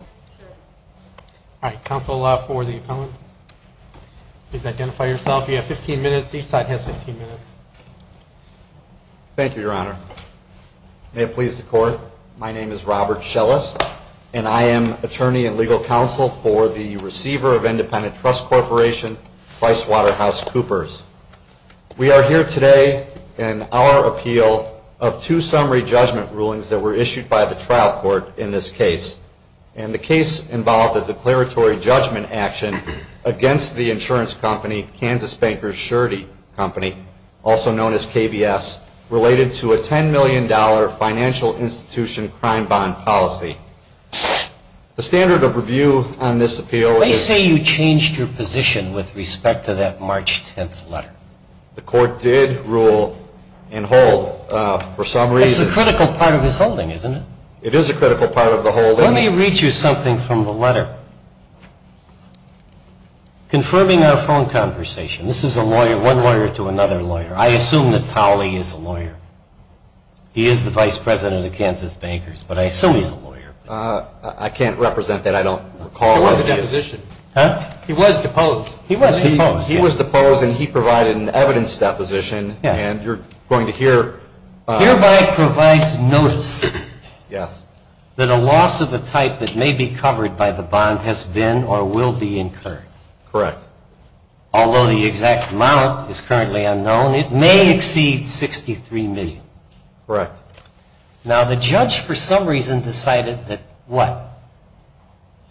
All right. Counsel, allow for the appellant. Please identify yourself. You have 15 minutes. Each side has 15 minutes. Thank you, Your Honor. May it please the Court, my name is Robert Schelles, and I am attorney and legal counsel for the receiver of Independent Trust Corporation, PricewaterhouseCoopers. We are here today in our appeal of two summary judgment rulings that were issued by the trial court in this case. And the case involved a declaratory judgment action against the insurance company, Kansas Bankers Surety Company, also known as KBS, related to a $10 million financial institution crime bond policy. The standard of review on this appeal is... They say you changed your position with respect to that March 10th letter. The court did rule and hold, for some reason... It's a critical part of his holding, isn't it? It is a critical part of the holding. Let me read you something from the letter. Confirming our phone conversation. This is a lawyer, one lawyer to another lawyer. I assume that Towley is a lawyer. He is the vice president of Kansas Bankers, but I assume he's a lawyer. I can't represent that. I don't know. He was deposed. He was deposed, and he provided an evidence deposition, and you're going to hear... Hereby provides notice that a loss of a type that may be covered by the bond has been or will be incurred. Correct. Although the exact amount is currently unknown, it may exceed $63 million. Correct. Now, the judge, for some reason, decided that, what,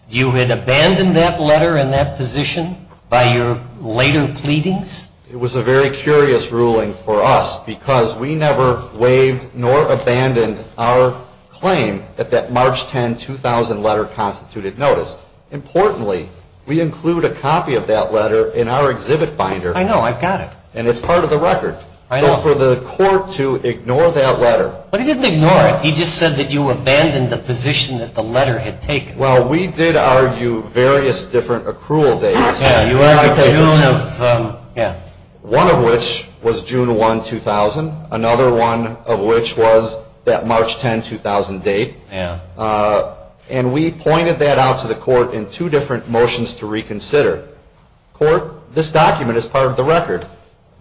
you had abandoned that letter and that position by your later pleadings? It was a very curious ruling for us because we never waived nor abandoned our claim at that March 10, 2000 letter constituted notice. Importantly, we include a copy of that letter in our exhibit binder. I know. I've got it. And it's part of the record. I know. So for the court to ignore that letter... But he didn't ignore it. He just said that you abandoned the position that the letter had taken. Well, we did argue various different accrual dates. Yeah, you argued the June of... Yeah. One of which was June 1, 2000. Another one of which was that March 10, 2000 date. Yeah. And we pointed that out to the court in two different motions to reconsider. Court, this document is part of the record.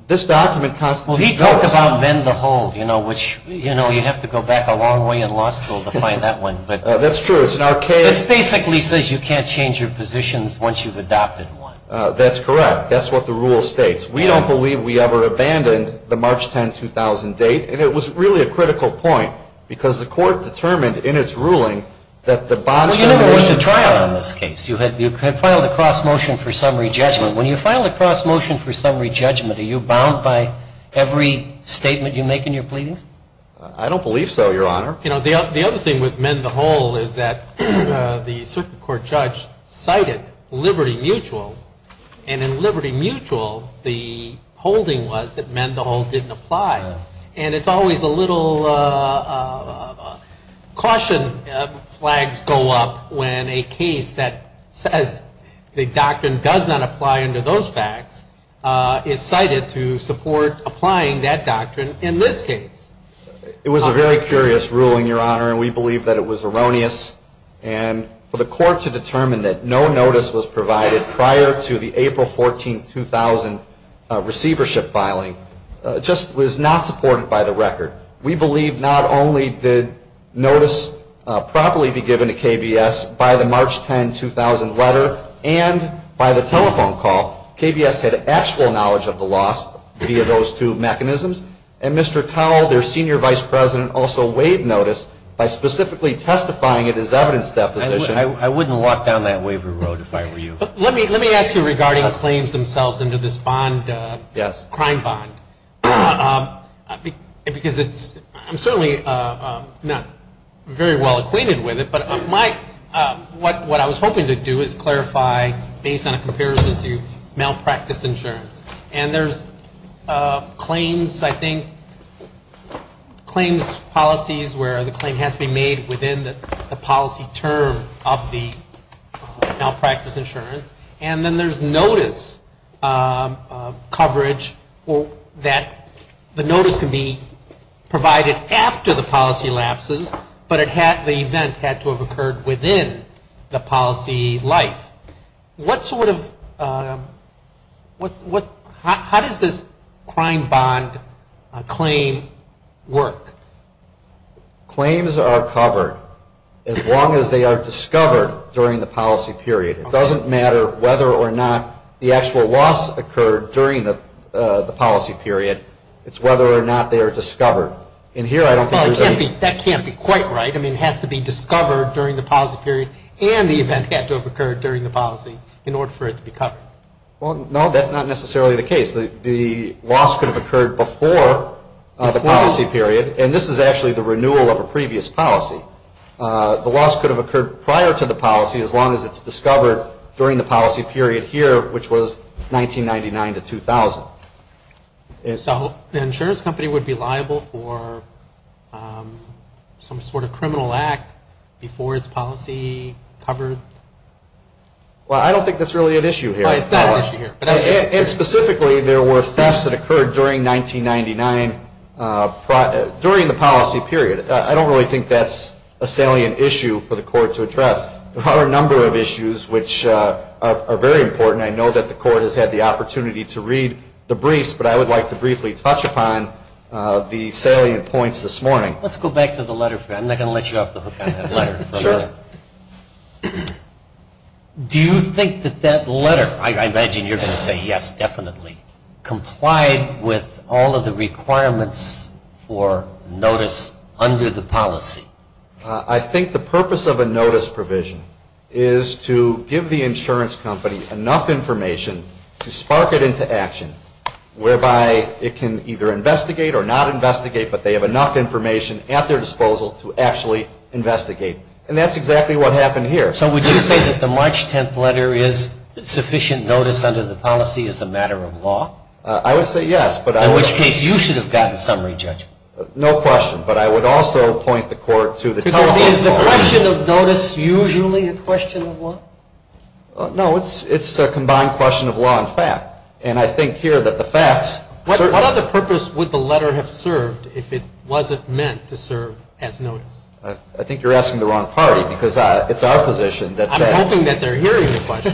This document constitutes notice. Well, he talked about bend the whole, you know, which, you know, you have to go back a long way in law school to find that one. That's true. It's an archaic... It basically says you can't change your positions once you've adopted one. That's correct. That's what the rule states. We don't believe we ever abandoned the March 10, 2000 date. And it was really a critical point because the court determined in its ruling that the bond should... Well, you never went to trial on this case. You had filed a cross motion for summary judgment. When you file a cross motion for summary judgment, are you bound by every law? You know, the other thing with mend the whole is that the circuit court judge cited Liberty Mutual. And in Liberty Mutual, the holding was that mend the whole didn't apply. And it's always a little caution flags go up when a case that says the doctrine does not apply under those facts is cited to support applying that doctrine in this case. It was a very curious ruling, Your Honor, and we believe that it was erroneous. And for the court to determine that no notice was provided prior to the April 14, 2000 receivership filing just was not supported by the record. We believe not only did notice properly be given to KBS by the March 10, 2000 letter and by the telephone call, KBS had actual knowledge of the loss via those two mechanisms. And Mr. Towle, their senior vice president, also waived notice by specifically testifying it as evidence deposition. I wouldn't walk down that waver road if I were you. Let me ask you regarding claims themselves into this bond, crime bond. Because I'm certainly not very well acquainted with it, but what I was hoping to do is clarify based on a comparison to malpractice insurance. And there's claims, I think, claims policies where the claim has to be made within the policy term of the malpractice insurance. And then there's notice coverage that the notice can be provided after the policy lapses, but the event had to have occurred within the policy life. What sort of, how does this crime bond claim work? Claims are covered as long as they are discovered during the policy period. It doesn't matter whether or not the actual loss occurred during the policy period. It's whether or not they are discovered. And here I don't think there's any... Well, that can't be quite right. I mean, it has to be discovered during the policy period and the event had to have occurred during the policy in order for it to be covered. Well, no, that's not necessarily the case. The loss could have occurred before the policy period, and this is actually the renewal of a previous policy. The loss could have occurred prior to the policy as long as it's discovered during the policy period here, which was 1999 to 2000. So the insurance company would be liable for some sort of criminal act before its policy covered? Well, I don't think that's really an issue here. It's not an issue here. And specifically, there were thefts that occurred during 1999, during the policy period. I don't really think that's a salient issue for the court to address. There are a number of issues which are very important. I know that the court has had the opportunity to read the briefs, but I would like to briefly touch upon the salient points this morning. Let's go back to the letter. I'm not going to let you off the hook on that letter. Do you think that that letter, I imagine you're going to say yes, definitely, complied with all of the requirements for notice under the policy? I think the purpose of a notice provision is to give the insurance company enough information to spark it into action, whereby it can either investigate or not investigate, but they have enough information at their disposal to actually investigate. And that's exactly what happened here. So would you say that the March 10th letter is sufficient notice under the policy as a matter of law? I would say yes. In which case, you should have gotten summary judgment. No question, but I would also point the court to the telehealth policy. Is the question of notice usually a question of law? No, it's a combined question of law and fact. And I think here that the facts... What other purpose would the letter have served if it wasn't meant to serve as notice? I think you're asking the wrong party, because it's our position that... I'm hoping that they're hearing the question.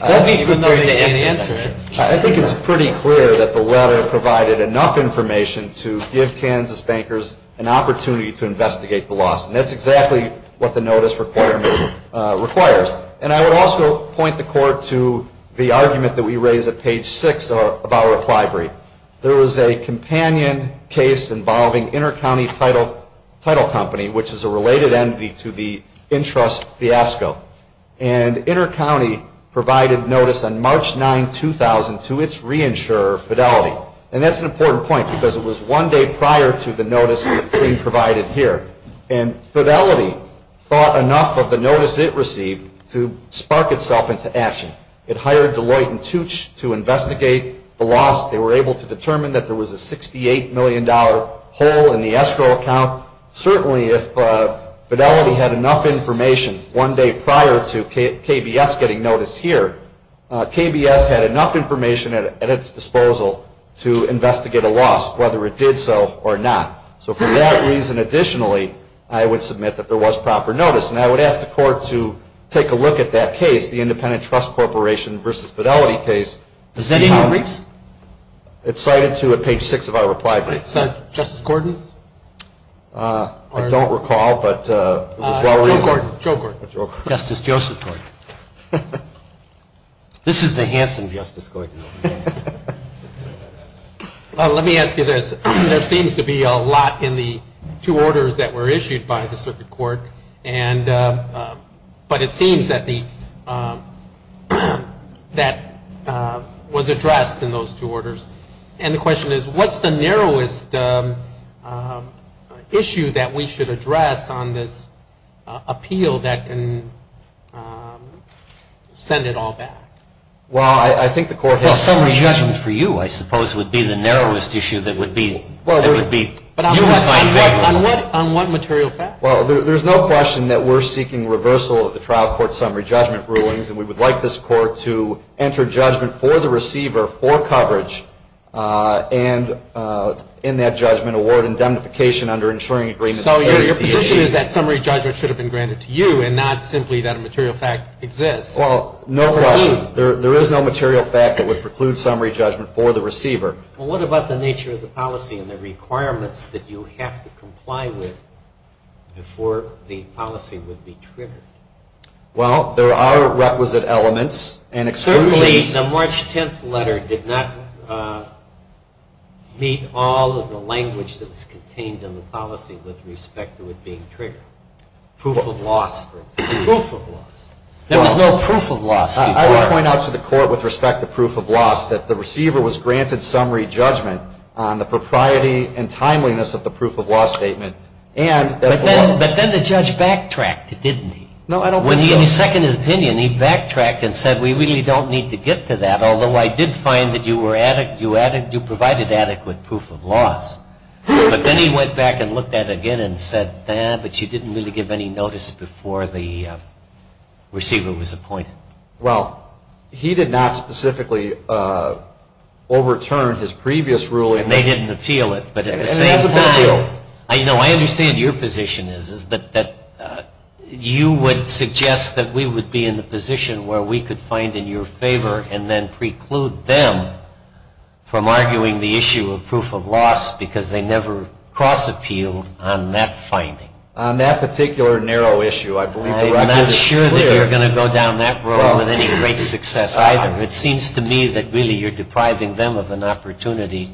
They'll be prepared to answer it. I think it's pretty clear that the letter provided enough information to give Kansas bankers an opportunity to investigate the loss. And that's exactly what the notice requirement requires. And I would also point the court to the argument that we raise at page 6 of our reply brief. There was a companion case involving Intercounty Title Company, which is a related entity to the InTrust fiasco. And Intercounty provided notice on March 9, 2002, to its reinsurer, Fidelity. And that's an important point, because it was one day prior to the notice being provided here. And Fidelity thought enough of the notice it received to spark itself into action. It hired Deloitte and Tooch to investigate the loss. They were able to determine that there was a $68 million hole in the escrow account. Certainly, if Fidelity had enough information one day prior to KBS getting notice here, KBS had enough information at its disposal to investigate a loss, whether it did so or not. So for that reason, additionally, I would submit that there was proper notice. And I would ask the court to take a look at that case, the Independent Trust Corporation v. Fidelity case, to see how... Is that in your briefs? It's cited to at page 6 of our reply brief. Is that Justice Gordon's? I don't recall, but it was well-reviewed. Joe Gordon. Joe Gordon. Justice Joseph Gordon. This is the handsome Justice Gordon. Well, let me ask you this. There seems to be a lot in the two orders that were issued by the Circuit Court, but it seems that was addressed in those two orders. And the question is, what's the narrowest issue that we should address on this appeal that can send it all back? Well, I think the court has... Well, summary judgment for you, I suppose, would be the narrowest issue that would be... Well, there would be... But on what material fact? Well, there's no question that we're seeking reversal of the trial court summary judgment rulings, and we would like this court to enter judgment for the receiver for coverage, and in that judgment, award indemnification under ensuring agreements... So your position is that summary judgment should have been granted to you, and not simply that a material fact exists? Well, no question. There is no material fact that would preclude summary judgment for the receiver. Well, what about the nature of the policy and the requirements that you have to comply with before the policy would be triggered? Well, there are requisite elements and exclusions... Certainly, the March 10th policy with respect to it being triggered. Proof of loss, for example. Proof of loss. There was no proof of loss before. I would point out to the court with respect to proof of loss that the receiver was granted summary judgment on the propriety and timeliness of the proof of loss statement, and... But then the judge backtracked, didn't he? No, I don't think so. When he seconded his opinion, he backtracked and said, we really don't need to get to that, although I did find that you provided adequate proof of loss. But then he went back and looked at it again and said, nah, but you didn't really give any notice before the receiver was appointed. Well, he did not specifically overturn his previous ruling... And they didn't appeal it, but at the same time... And it's a bad deal. I know, I understand your position is that you would suggest that we would be in the position where we could find in your favor, and then preclude them from arguing the issue of proof of loss because they never cross-appealed on that finding. On that particular narrow issue, I believe the record is clear. I'm not sure that you're going to go down that road with any great success either. It seems to me that really you're depriving them of an opportunity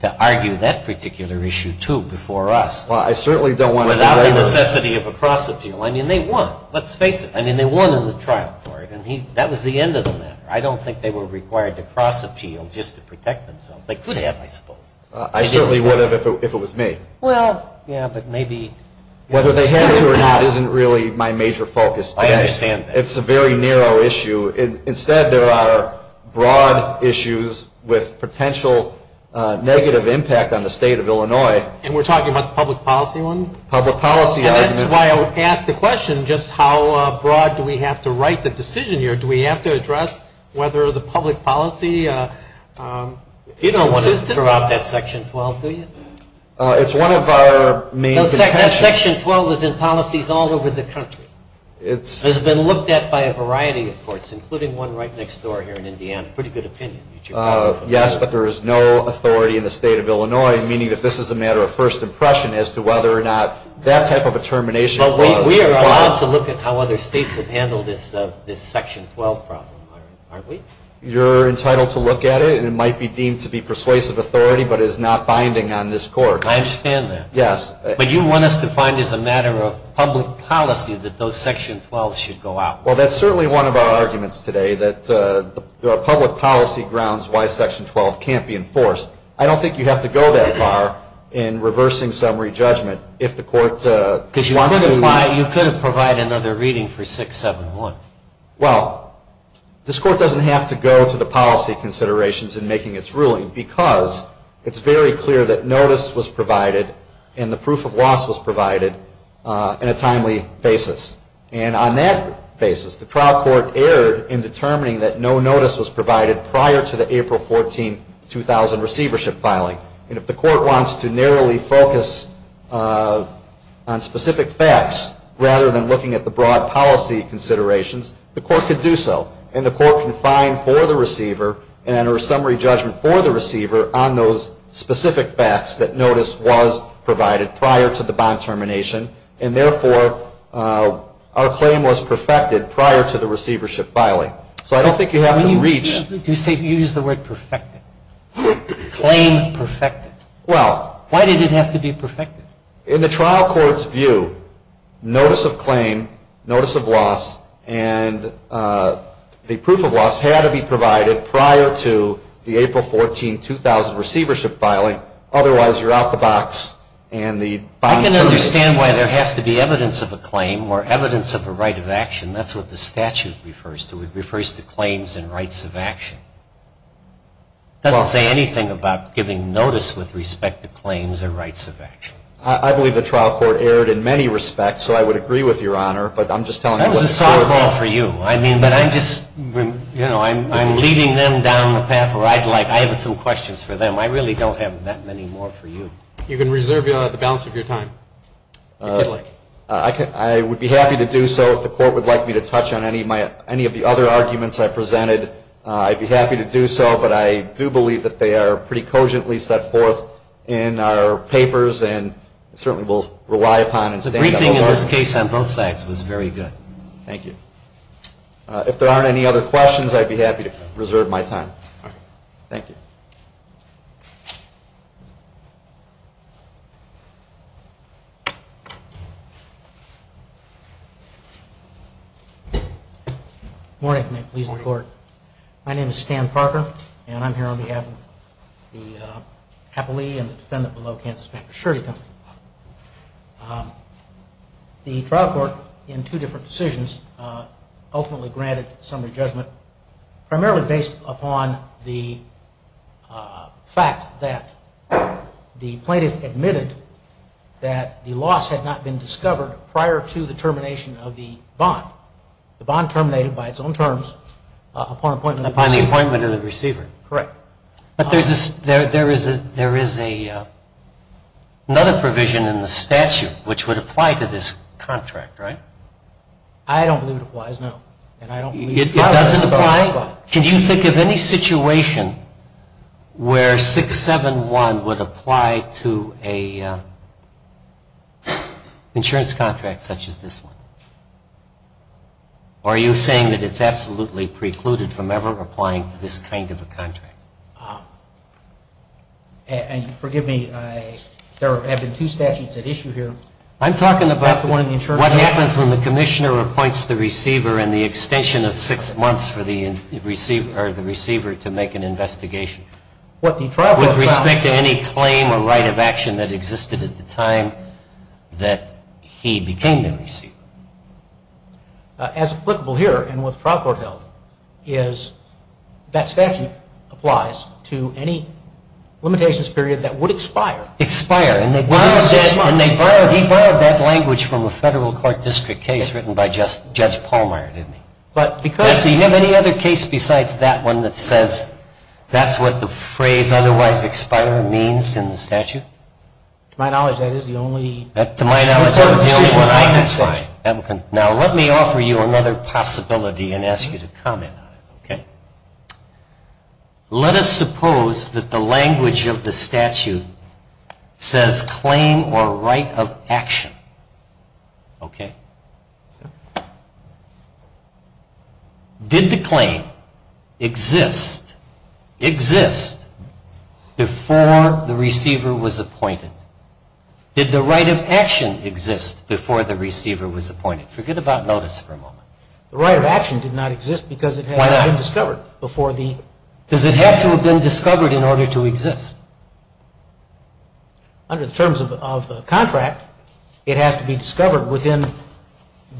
to argue that particular issue, too, before us. Well, I certainly don't want to... Without the necessity of a cross-appeal. I mean, they won. Let's face it. I mean, they won in the trial court, and that was the end of the matter. I don't think they were required to cross-appeal just to protect themselves. They could have, I suppose. I certainly would have if it was me. Well, yeah, but maybe... Whether they have to or not isn't really my major focus today. I understand that. It's a very narrow issue. Instead, there are broad issues with potential negative impact on the state of Illinois. And we're talking about the public policy one? Public policy argument. And that's why I would ask the question just how broad do we have to write the decision here? Do we have to address whether the public policy is consistent? You don't want to throw out that Section 12, do you? It's one of our main intentions. That Section 12 is in policies all over the country. It's been looked at by a variety of courts, including one right next door here in Indiana. Pretty good opinion that you brought up. Yes, but there is no authority in the state of Illinois, meaning that this is a matter of first impression as to whether or not that type of a termination clause applies. But we are allowed to look at how other states have handled this Section 12 problem, aren't we? You're entitled to look at it, and it might be deemed to be persuasive authority, but it is not binding on this Court. I understand that. Yes. But you want us to find as a matter of public policy that those Section 12s should go out. Well, that's certainly one of our arguments today, that there are public policy grounds why Section 12 can't be enforced. I don't think you have to go that far in reversing summary judgment if the Court wants to... Because you could have provided another reading for 671. Well, this Court doesn't have to go to the policy considerations in making its ruling because it's very clear that notice was provided and the proof of loss was provided in a timely basis. And on that basis, the trial court erred in determining that no notice was provided prior to the April 14, 2000 receivership filing. And if the Court wants to narrowly focus on specific facts rather than looking at the broad policy considerations, the Court could do so. And the Court can find for the receiver and enter a summary judgment for the receiver on those specific facts that notice was provided prior to the bond termination. And therefore, our claim was perfected prior to the receivership filing. So I don't think you have to reach... You say you use the word perfected. Claim perfected. Well... Why did it have to be perfected? In the trial court's view, notice of claim, notice of loss, and the proof of loss had to be provided prior to the April 14, 2000 receivership filing. Otherwise, you're out the box and the bond termination... I can understand why there has to be evidence of a claim or evidence of a right of action. That's what the statute refers to. It refers to claims and rights of action. It doesn't say anything about giving notice with respect to claims or rights of action. I believe the trial court erred in many respects, so I would agree with Your Honor, but I'm just telling you what the Court... That was a softball for you. I mean, but I'm just, you know, I'm leading them down the path where I'd like. I have some questions for them. I really don't have that many more for you. You can reserve the balance of your time, if you'd like. I would be happy to do so if the Court would like me to touch on any of the other arguments I presented. I'd be happy to do so, but I do believe that they are pretty cogently set forth in our papers and certainly we'll rely upon and... The briefing in this case on both sides was very good. Thank you. If there aren't any other questions, I'd be happy to reserve my time. Thank you. Good morning. My name is Stan Parker and I'm here on behalf of the appellee and the defendant below Kansas, Mr. Shurty. The trial court in two different decisions ultimately granted summary judgment primarily based upon the fact that the plaintiff admitted that the bond terminated by its own terms upon appointment of the receiver. Upon the appointment of the receiver. Correct. But there is another provision in the statute which would apply to this contract, right? I don't believe it applies, no. It doesn't apply? It doesn't apply. Can you think of any situation where 671 would apply to an insurance contract such as this one? Or are you saying that it's absolutely precluded from ever applying to this kind of a contract? And forgive me, there have been two statutes at issue here. I'm talking about what happens when the commissioner appoints the receiver and the extension of six months for the receiver to make an investigation. With respect to any claim or right of action that existed at the time that he became the receiver. As applicable here and what the trial court held is that statute applies to any limitations period that would expire. Expire. And he borrowed that language from a federal court district case written by Judge Pallmeyer, didn't he? Do you have any other case besides that one that says that's what the phrase otherwise expire means in the statute? To my knowledge, that is the only one I can cite. Now let me offer you another possibility and ask you to comment on it, okay? Let us suppose that the language of the statute says claim or right of action, okay? Did the claim exist, exist before the receiver was appointed? Did the right of action exist before the receiver was appointed? Forget about notice for a moment. The right of action did not exist because it had not been discovered. Why not? Because it had to have been discovered in order to exist. Under the terms of the contract, it has to be discovered within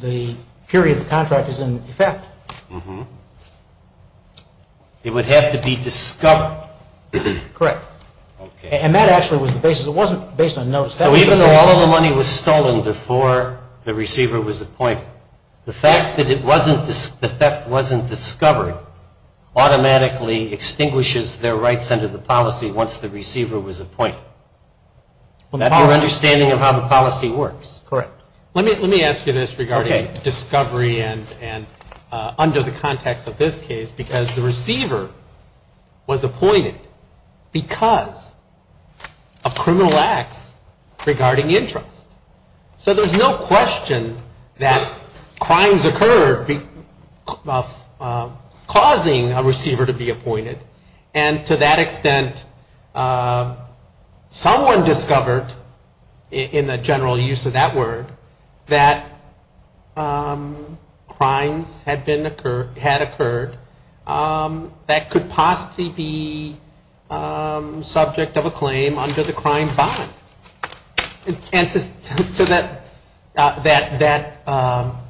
the period the contract is in effect. It would have to be discovered. Correct. Okay. And that actually was the basis. It wasn't based on notice. So even though all of the money was stolen before the receiver was appointed, the fact that the theft wasn't discovered automatically extinguishes their rights under the policy once the receiver was appointed. That's your understanding of how the policy works. Correct. Let me ask you this regarding discovery and under the context of this case, because the receiver was appointed because of criminal acts regarding interest. So there's no question that crimes occurred causing a receiver to be appointed. And to that extent, someone discovered in the general use of that word that crimes had occurred that could possibly be subject of a claim under the crime bond. And to that,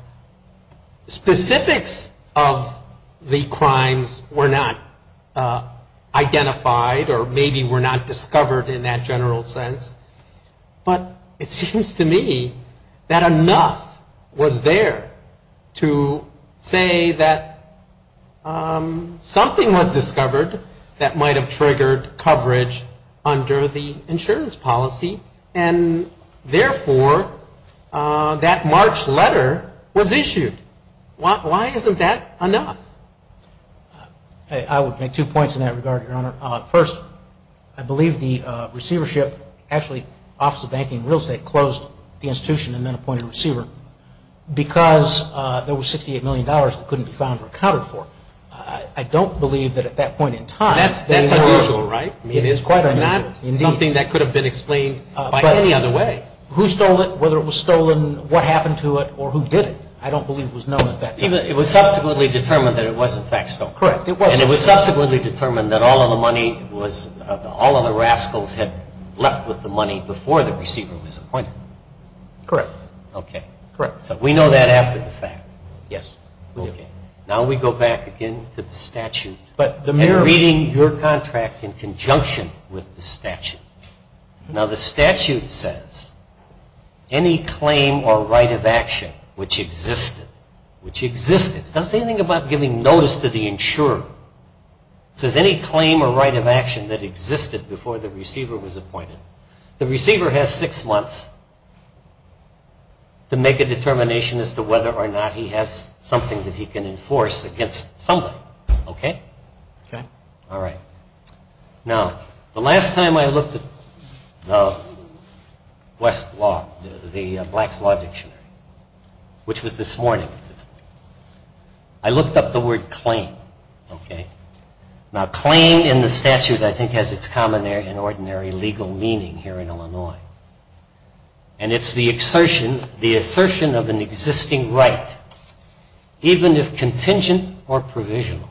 specifics of the crimes were not identified or maybe were not discovered in that general sense, but it seems to me that enough was there to say that something was discovered that might have triggered coverage under the insurance policy and therefore that March letter was issued. Why isn't that enough? I would make two points in that regard, Your Honor. First, I believe the receivership, actually Office of Banking and Real Estate closed the institution and then appointed a receiver because there was $68 million that couldn't be found or accounted for. I don't believe that at that point in time. That's unusual, right? It is quite unusual. Indeed. Something that could have been explained by any other way. But who stole it, whether it was stolen, what happened to it, or who did it, I don't believe it was known at that time. It was subsequently determined that it was in fact stolen. Correct. And it was subsequently determined that all of the money was, all of the rascals had left with the money before the receiver was appointed. Correct. Okay. Correct. So we know that after the fact. Yes. Okay. Now we go back again to the statute. And reading your contract in conjunction with the statute. Now the statute says any claim or right of action which existed, which existed. It doesn't say anything about giving notice to the insurer. It says any claim or right of action that existed before the receiver was appointed. The receiver has six months to make a determination as to whether or not he has something that he can enforce against somebody. Okay? Okay. All right. Now the last time I looked at the West Law, the Black's Law Dictionary, which was this morning, I looked up the word claim. Okay? Now claim in the statute I think has its common and ordinary legal meaning here in Illinois. And it's the assertion of an existing right, even if contingent or provisional.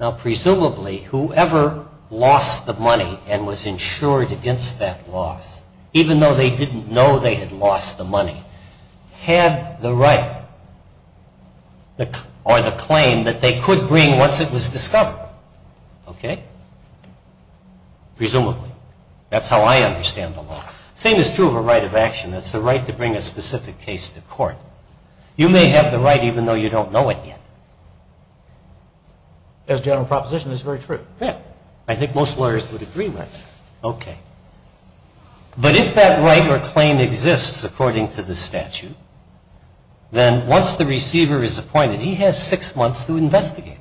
Now presumably whoever lost the money and was insured against that loss, even though they didn't know they had lost the money, had the right or the claim that they could bring once it was discovered. Okay? Presumably. That's how I understand the law. Same is true of a right of action. That's the right to bring a specific case to court. You may have the right even though you don't know it yet. As a general proposition, that's very true. Yeah. I think most lawyers would agree with that. Okay. But if that right or claim exists according to the statute, then once the receiver is appointed, he has six months to investigate.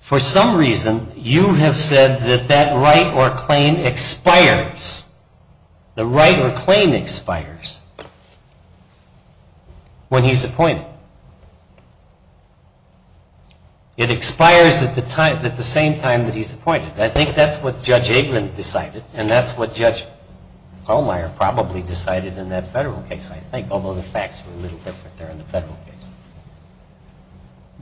For some reason, you have said that that right or claim expires. The right or claim expires when he's appointed. It expires at the same time that he's appointed. I think that's what Judge Aikman decided, and that's what Judge Pallmeyer probably decided in that federal case, I think, although the facts were a little different there in the federal case.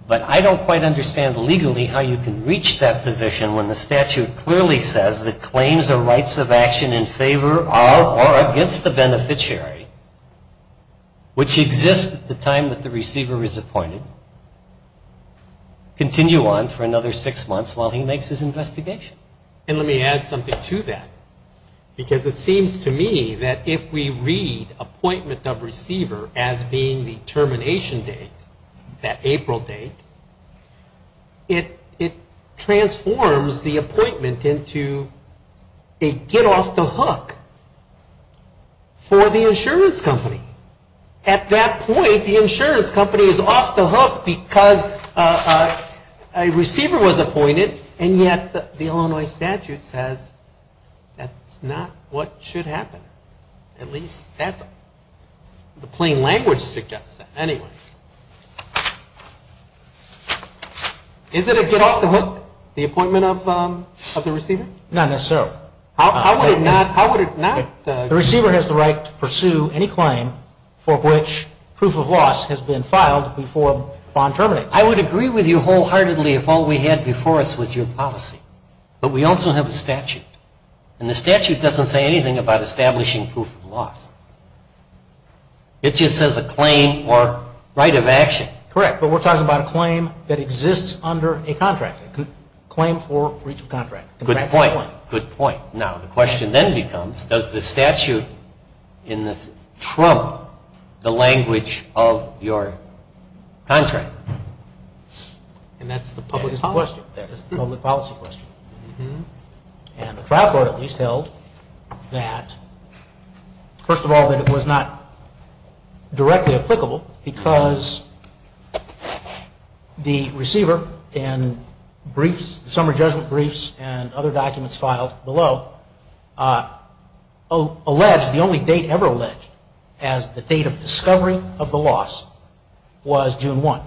But I don't quite understand legally how you can reach that position when the statute clearly says that claims or rights of action in favor of or against the beneficiary, which exist at the time that the receiver is appointed, continue on for another six months while he makes his investigation. And let me add something to that. Because it seems to me that if we read appointment of receiver as being the termination date, that April date, it transforms the appointment into a get-off-the-hook for the insurance company. At that point, the insurance company is off the hook because a receiver was appointed, and yet the Illinois statute says that's not what should happen. At least that's what the plain language suggests. Anyway, is it a get-off-the-hook, the appointment of the receiver? Not necessarily. How would it not? The receiver has the right to pursue any claim for which proof of loss has been filed before a bond terminates. I would agree with you wholeheartedly if all we had before us was your policy. But we also have a statute. And the statute doesn't say anything about establishing proof of loss. It just says a claim or right of action. Correct. But we're talking about a claim that exists under a contract, a claim for breach of contract. Good point, good point. Now, the question then becomes, does the statute in this trump the language of your contract? And that's the public policy question. And the trial court at least held that, first of all, that it was not directly applicable because the receiver in briefs, summer judgment briefs, and other documents filed below allege, the only date ever alleged, as the date of discovery of the loss was June 1.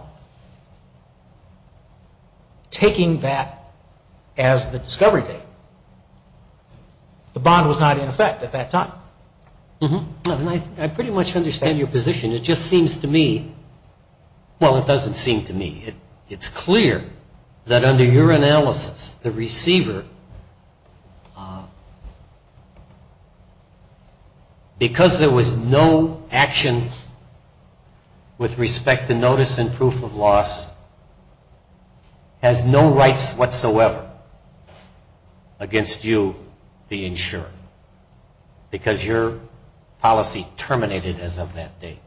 Taking that as the discovery date, the bond was not in effect at that time. I pretty much understand your position. It just seems to me, well, it doesn't seem to me. It's clear that under your analysis, the receiver, because there was no action with respect to notice and proof of loss, has no rights whatsoever against you, the insurer, because your policy terminated as of that date.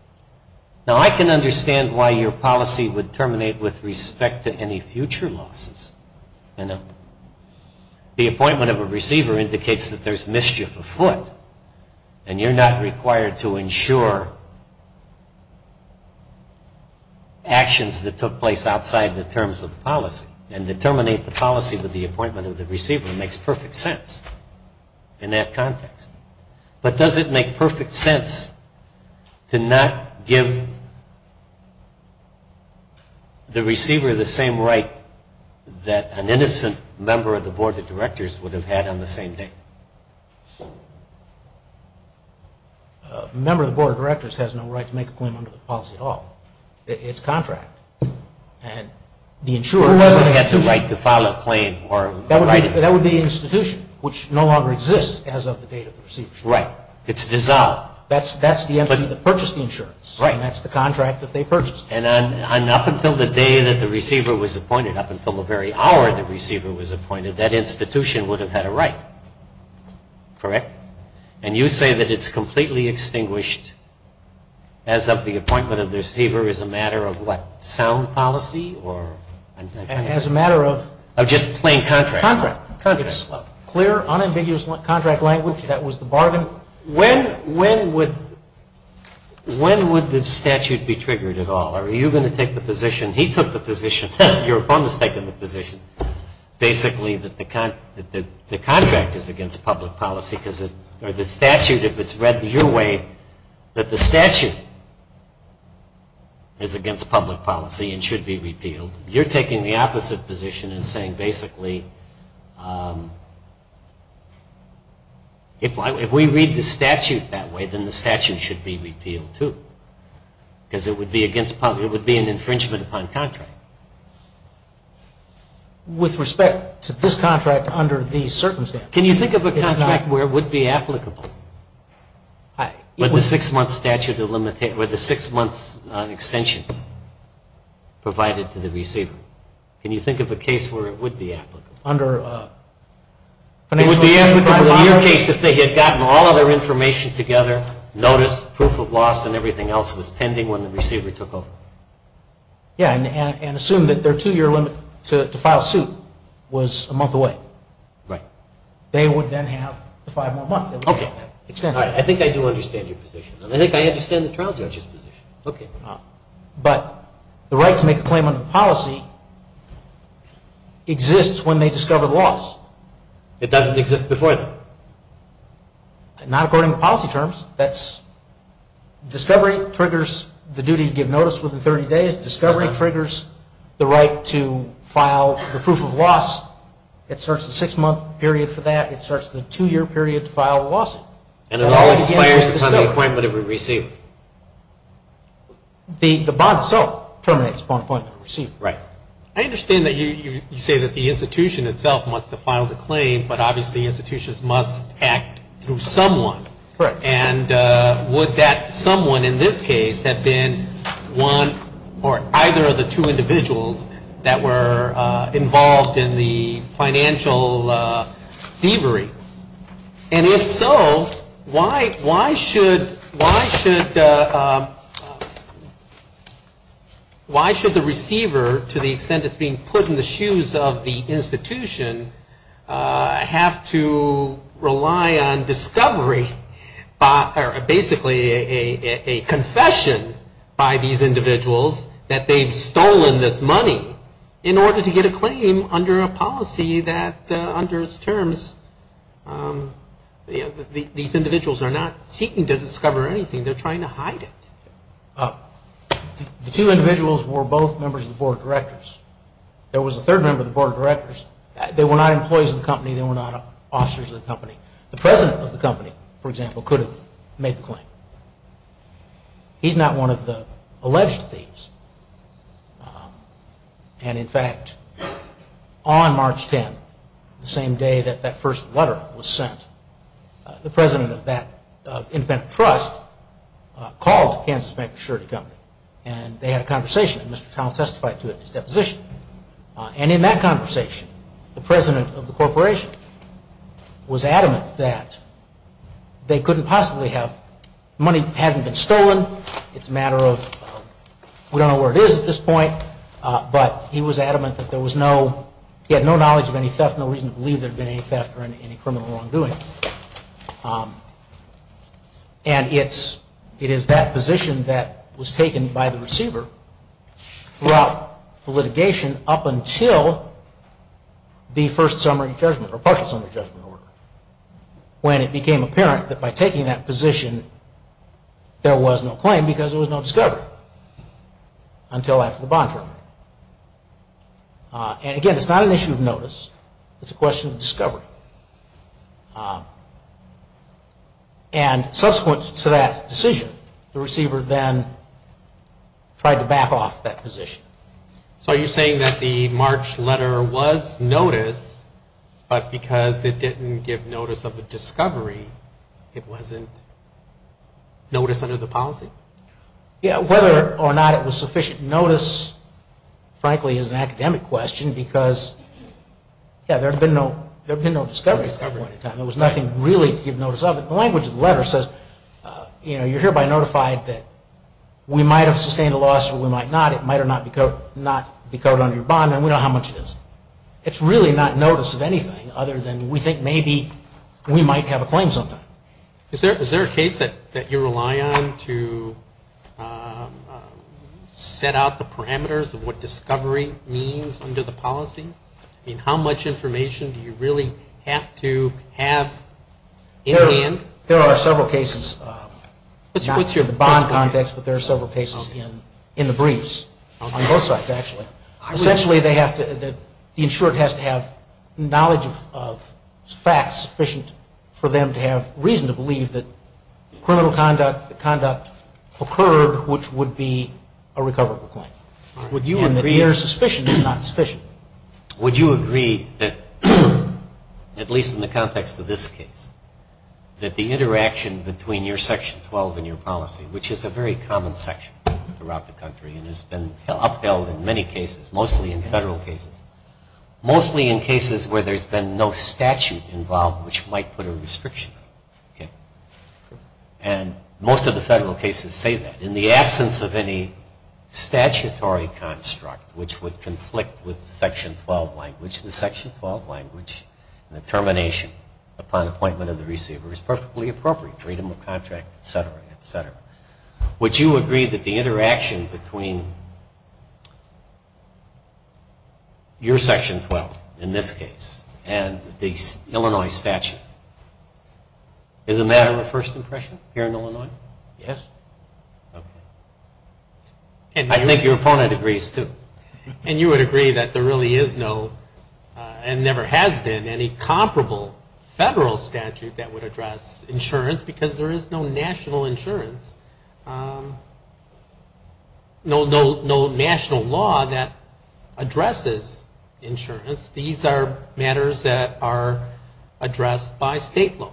Now, I can understand why your policy would terminate with respect to any future losses. The appointment of a receiver indicates that there's mischief afoot, and you're not required to ensure actions that took place outside the terms of the policy. And to terminate the policy with the appointment of the receiver makes perfect sense. In that context. But does it make perfect sense to not give the receiver the same right that an innocent member of the Board of Directors would have had on the same day? A member of the Board of Directors has no right to make a claim under the policy at all. It's contract. The insurer doesn't have the right to file a claim. That would be the institution, which no longer exists as of the date of the receiver's appointment. Right. It's dissolved. That's the entity that purchased the insurance. Right. And that's the contract that they purchased. And up until the day that the receiver was appointed, up until the very hour the receiver was appointed, that institution would have had a right. Correct? And you say that it's completely extinguished as of the appointment of the receiver as a matter of what? Sound policy? As a matter of? Of just plain contract. Contract. It's clear, unambiguous contract language that was the bargain. When would the statute be triggered at all? Are you going to take the position, he took the position, your opponent has taken the position, basically that the contract is against public policy or the statute, if it's read your way, that the statute is against public policy and should be repealed, you're taking the opposite position and saying basically if we read the statute that way, then the statute should be repealed too. Because it would be against public, it would be an infringement upon contract. With respect to this contract under these circumstances? Can you think of a contract where it would be applicable? With the six-month extension provided to the receiver? Can you think of a case where it would be applicable? Under financial insurance providers? It would be applicable in your case if they had gotten all of their information together, notice, proof of loss and everything else was pending when the receiver took over. Yeah, and assume that their two-year limit to file suit was a month away. Right. They would then have five more months. Okay. I think I do understand your position. I think I understand the trial judge's position. Okay. But the right to make a claim under the policy exists when they discover the loss. It doesn't exist before then? Not according to policy terms. That's discovery triggers the duty to give notice within 30 days. Discovery triggers the right to file the proof of loss. It starts the six-month period for that. It starts the two-year period to file the lawsuit. And it all expires upon the appointment of the receiver. The bond itself terminates upon appointment of the receiver. Right. I understand that you say that the institution itself must file the claim, but obviously institutions must act through someone. Correct. And would that someone in this case have been one or either of the two individuals that were involved in the financial thievery? And if so, why should the receiver, to the extent it's being put in the shoes of the institution, have to rely on discovery, or basically a confession by these individuals that they've stolen this money in order to get a claim under a policy that under its terms, these individuals are not seeking to discover anything. They're trying to hide it. The two individuals were both members of the board of directors. There was a third member of the board of directors. They were not employees of the company. They were not officers of the company. The president of the company, for example, could have made the claim. He's not one of the alleged thieves. And, in fact, on March 10th, the same day that that first letter was sent, the president of that independent trust called Kansas Bank Assurity Company, and they had a conversation. Mr. Town testified to it in his deposition. And in that conversation, the president of the corporation was adamant that they couldn't possibly have, money hadn't been stolen. It's a matter of, we don't know where it is at this point, but he was adamant that there was no, he had no knowledge of any theft, no reason to believe there had been any theft or any criminal wrongdoing. And it is that position that was taken by the receiver throughout the litigation up until the first summary judgment, or partial summary judgment order, when it became apparent that by taking that position, there was no claim because there was no discovery until after the bond term. And, again, it's not an issue of notice. It's a question of discovery. And subsequent to that decision, the receiver then tried to back off that position. So are you saying that the March letter was notice, but because it didn't give notice of a discovery, it wasn't notice under the policy? Yeah, whether or not it was sufficient notice, frankly, is an academic question because, yeah, there had been no discovery at that point in time. There was nothing really to give notice of. But the language of the letter says, you know, you're hereby notified that we might have sustained a loss or we might not. It might or might not be covered under your bond, and we know how much it is. It's really not notice of anything other than we think maybe we might have a claim sometime. Is there a case that you rely on to set out the parameters of what discovery means under the policy? I mean, how much information do you really have to have in hand? There are several cases, not in the bond context, but there are several cases in the briefs on both sides, actually. Essentially, the insured has to have knowledge of facts sufficient for them to have reason to believe that criminal conduct occurred, which would be a recoverable claim. Would you agree that your suspicion is not sufficient? Would you agree that, at least in the context of this case, that the interaction between your Section 12 and your policy, which is a very common section throughout the country and has been upheld in many cases, mostly in federal cases, mostly in cases where there's been no statute involved, which might put a restriction on it. And most of the federal cases say that. In the absence of any statutory construct, which would conflict with Section 12 language, the Section 12 language and the termination upon appointment of the receiver is perfectly appropriate, freedom of contract, et cetera, et cetera. Would you agree that the interaction between your Section 12, in this case, and the Illinois statute is a matter of first impression here in Illinois? Yes. I think your opponent agrees, too. And you would agree that there really is no, and never has been, any comparable federal statute that would address insurance because there is no national insurance, no national law that addresses insurance. These are matters that are addressed by state law.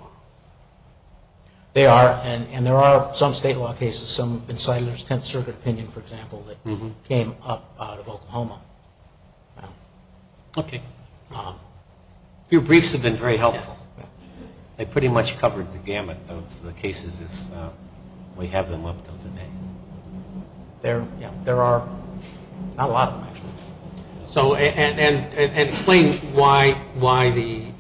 They are. And there are some state law cases, some insiders, Tenth Circuit opinion, for example, that came up out of Oklahoma. Okay. Your briefs have been very helpful. They pretty much covered the gamut of the cases as we have them up until today. There are not a lot of them, actually. And explain why the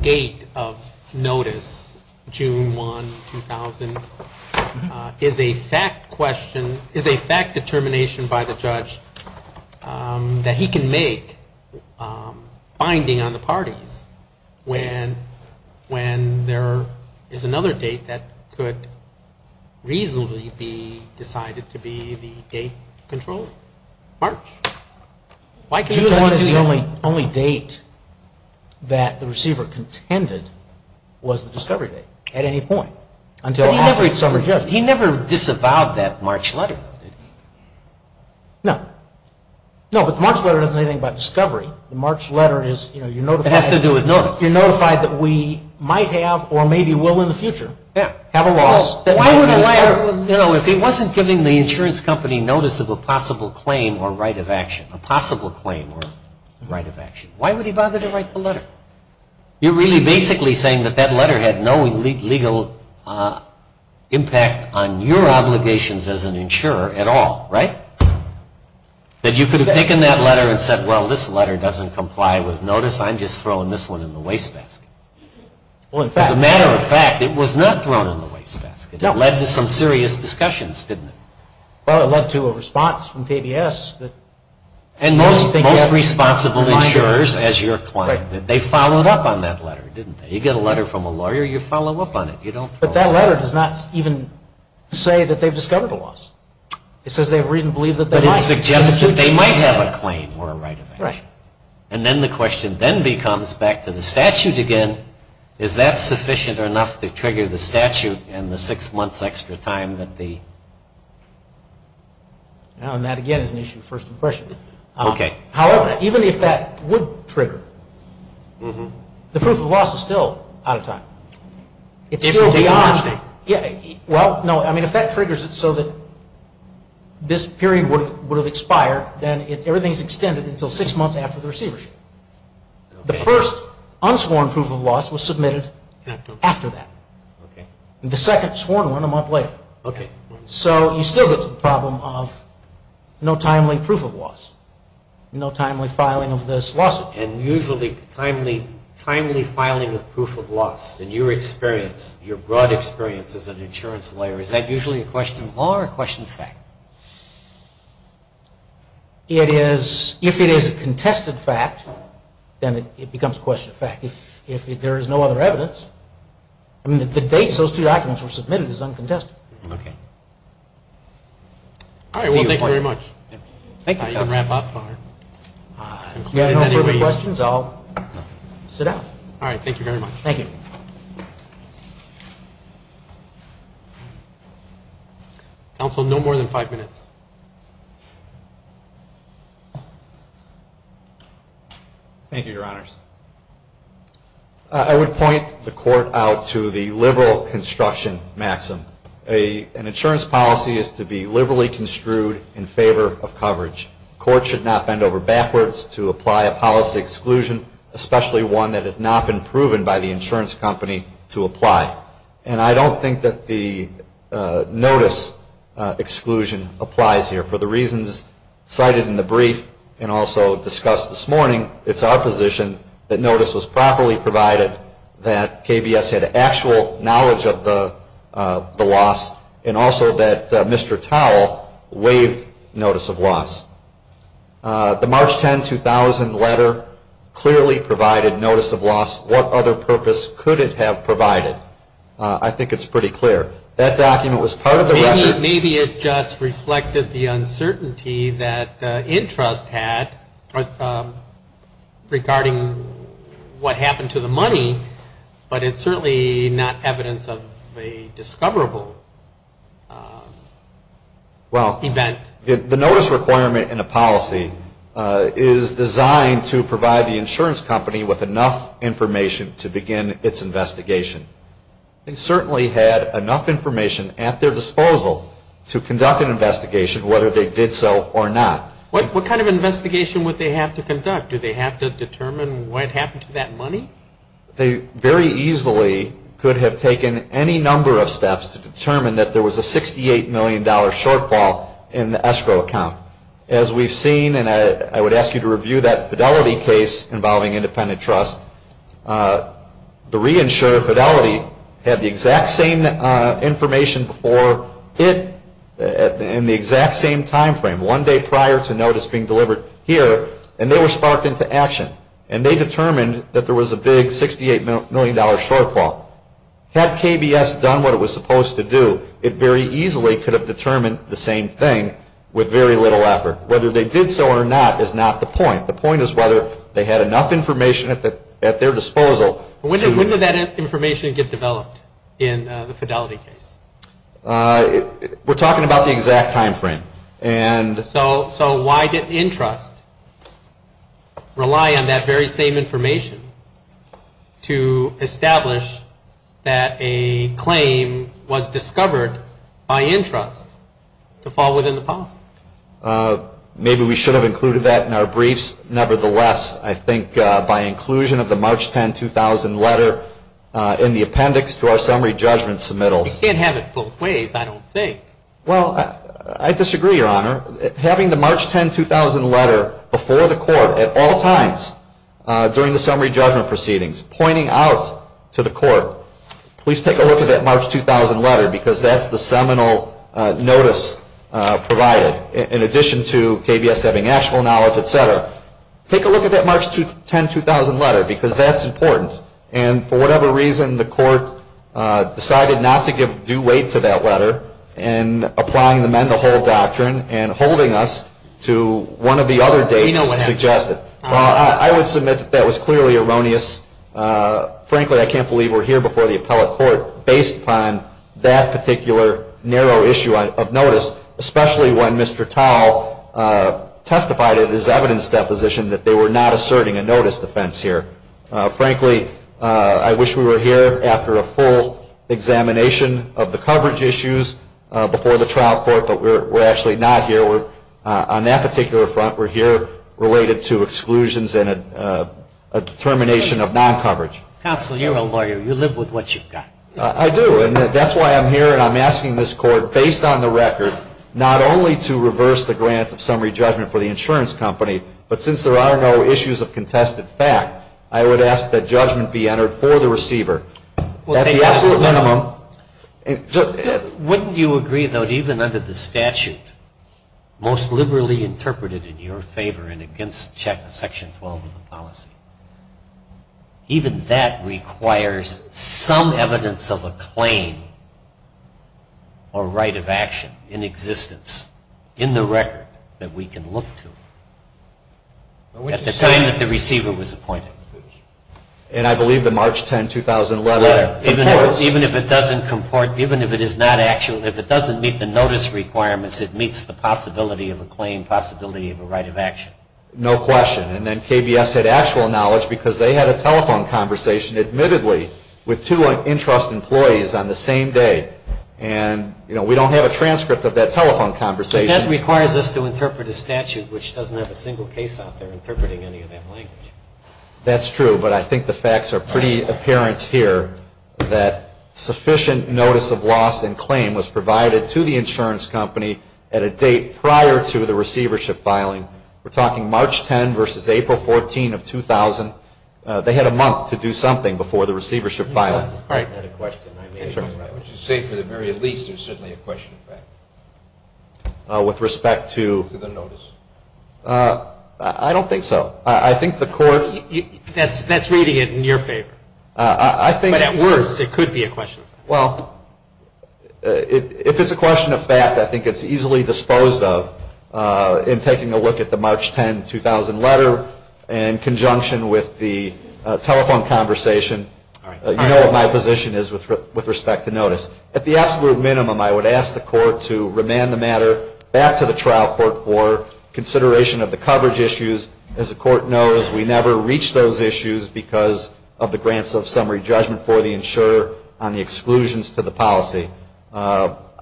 date of notice, June 1, 2000, is a fact determination by the judge that he can make binding on the parties when there is another date that could reasonably be decided to be the date controlling. March. June 1 is the only date that the receiver contended was the discovery date at any point. But he never disavowed that March letter, though, did he? No. No, but the March letter doesn't say anything about discovery. The March letter is, you know, you're notified. It has to do with notice. You're notified that we might have or maybe will in the future have a loss. Why would a lawyer, you know, if he wasn't giving the insurance company notice of a possible claim or right of action, a possible claim or right of action, why would he bother to write the letter? You're really basically saying that that letter had no legal impact on your obligations as an insurer at all, right? That you could have taken that letter and said, well, this letter doesn't comply with notice. I'm just throwing this one in the wastebasket. As a matter of fact, it was not thrown in the wastebasket. It led to some serious discussions, didn't it? Well, it led to a response from PBS. And most responsible insurers, as your client, they followed up on that letter, didn't they? You get a letter from a lawyer, you follow up on it. But that letter does not even say that they've discovered a loss. It says they have reason to believe that they might. But it suggests that they might have a claim or a right of action. Right. And then the question then becomes, back to the statute again, is that sufficient or enough to trigger the statute and the six months extra time that the... Now, and that again is an issue of first impression. Okay. However, even if that would trigger, the proof of loss is still out of time. It's still beyond... Well, no. I mean, if that triggers it so that this period would have expired, then everything is extended until six months after the receivership. The first unsworn proof of loss was submitted after that. The second sworn one a month later. Okay. So you still get to the problem of no timely proof of loss, no timely filing of this lawsuit. And usually timely filing of proof of loss, in your experience, your broad experience as an insurance lawyer, is that usually a question of law or a question of fact? If it is a contested fact, then it becomes a question of fact. If there is no other evidence, I mean, the date those two documents were submitted is uncontested. Okay. All right. Well, thank you very much. Thank you. You can wrap up. If you have no further questions, I'll sit down. All right. Thank you very much. Thank you. Counsel, no more than five minutes. Thank you, Your Honors. I would point the Court out to the liberal construction maxim. An insurance policy is to be liberally construed in favor of coverage. The Court should not bend over backwards to apply a policy exclusion, especially one that has not been proven by the insurance company to apply. And I don't think that the notice exclusion applies here. For the reasons cited in the brief and also discussed this morning, it's our position that notice was properly provided, that KBS had actual knowledge of the loss, and also that Mr. Towle waived notice of loss. The March 10, 2000 letter clearly provided notice of loss. What other purpose could it have provided? I think it's pretty clear. That document was part of the record. Maybe it just reflected the uncertainty that interest had regarding what happened to the money, but it's certainly not evidence of a discoverable event. The notice requirement in a policy is designed to provide the insurance company with enough information to begin its investigation. They certainly had enough information at their disposal to conduct an investigation, whether they did so or not. What kind of investigation would they have to conduct? Do they have to determine what happened to that money? They very easily could have taken any number of steps to determine that there was a $68 million shortfall in the escrow account. As we've seen, and I would ask you to review that Fidelity case involving independent trust, the reinsurer, Fidelity, had the exact same information before it in the exact same time frame, one day prior to notice being delivered here, and they were sparked into action. They determined that there was a big $68 million shortfall. Had KBS done what it was supposed to do, it very easily could have determined the same thing with very little effort. Whether they did so or not is not the point. The point is whether they had enough information at their disposal. When did that information get developed in the Fidelity case? We're talking about the exact time frame. So why did InTrust rely on that very same information to establish that a claim was discovered by InTrust to fall within the policy? Maybe we should have included that in our briefs. Nevertheless, I think by inclusion of the March 10, 2000 letter in the appendix to our summary judgment submittals. They can't have it both ways, I don't think. Well, I disagree, Your Honor. Having the March 10, 2000 letter before the court at all times during the summary judgment proceedings, pointing out to the court, please take a look at that March 2000 letter because that's the seminal notice provided in addition to KBS having actual knowledge, et cetera. Take a look at that March 10, 2000 letter because that's important. And for whatever reason, the court decided not to give due weight to that letter in applying the men-to-hold doctrine and holding us to one of the other dates suggested. I would submit that that was clearly erroneous. Frankly, I can't believe we're here before the appellate court based upon that particular narrow issue of notice, especially when Mr. Towle testified in his evidence deposition that they were not asserting a notice defense here. Frankly, I wish we were here after a full examination of the coverage issues before the trial court, but we're actually not here. On that particular front, we're here related to exclusions and a determination of non-coverage. Counsel, you're a lawyer. You live with what you've got. I do, and that's why I'm here and I'm asking this court, based on the record, not only to reverse the grant of summary judgment for the insurance company, but since there are no issues of contested fact, I would ask that judgment be entered for the receiver. At the absolute minimum. Wouldn't you agree, though, that even under the statute, most liberally interpreted in your favor and against Section 12 of the policy, even that requires some evidence of a claim or right of action in existence, in the record, that we can look to at the time that the receiver was appointed? And I believe the March 10, 2011 reports. Even if it doesn't comport, even if it is not actual, if it doesn't meet the notice requirements, it meets the possibility of a claim, possibility of a right of action. No question. And then KBS had actual knowledge because they had a telephone conversation, admittedly, with two interest employees on the same day. And, you know, we don't have a transcript of that telephone conversation. But that requires us to interpret a statute, which doesn't have a single case out there interpreting any of that language. That's true, but I think the facts are pretty apparent here that sufficient notice of loss and claim was provided to the insurance company at a date prior to the receivership filing. We're talking March 10 versus April 14 of 2000. They had a month to do something before the receivership filing. All right. Would you say for the very least there's certainly a question of fact? With respect to? To the notice. I don't think so. I think the court. That's reading it in your favor. I think. But at worst, it could be a question of fact. Well, if it's a question of fact, I think it's easily disposed of in taking a look at the March 10, 2000 letter in conjunction with the telephone conversation. You know what my position is with respect to notice. At the absolute minimum, I would ask the court to remand the matter back to the trial court for consideration of the coverage issues. As the court knows, we never reach those issues because of the grants of summary judgment for the insurer on the exclusions to the policy.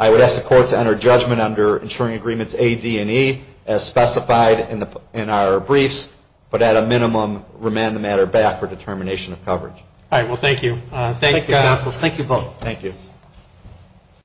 I would ask the court to enter judgment under insuring agreements A, D, and E as specified in our briefs, but at a minimum remand the matter back for determination of coverage. All right. Well, thank you. Thank you, counsels. Thank you both. Thank you.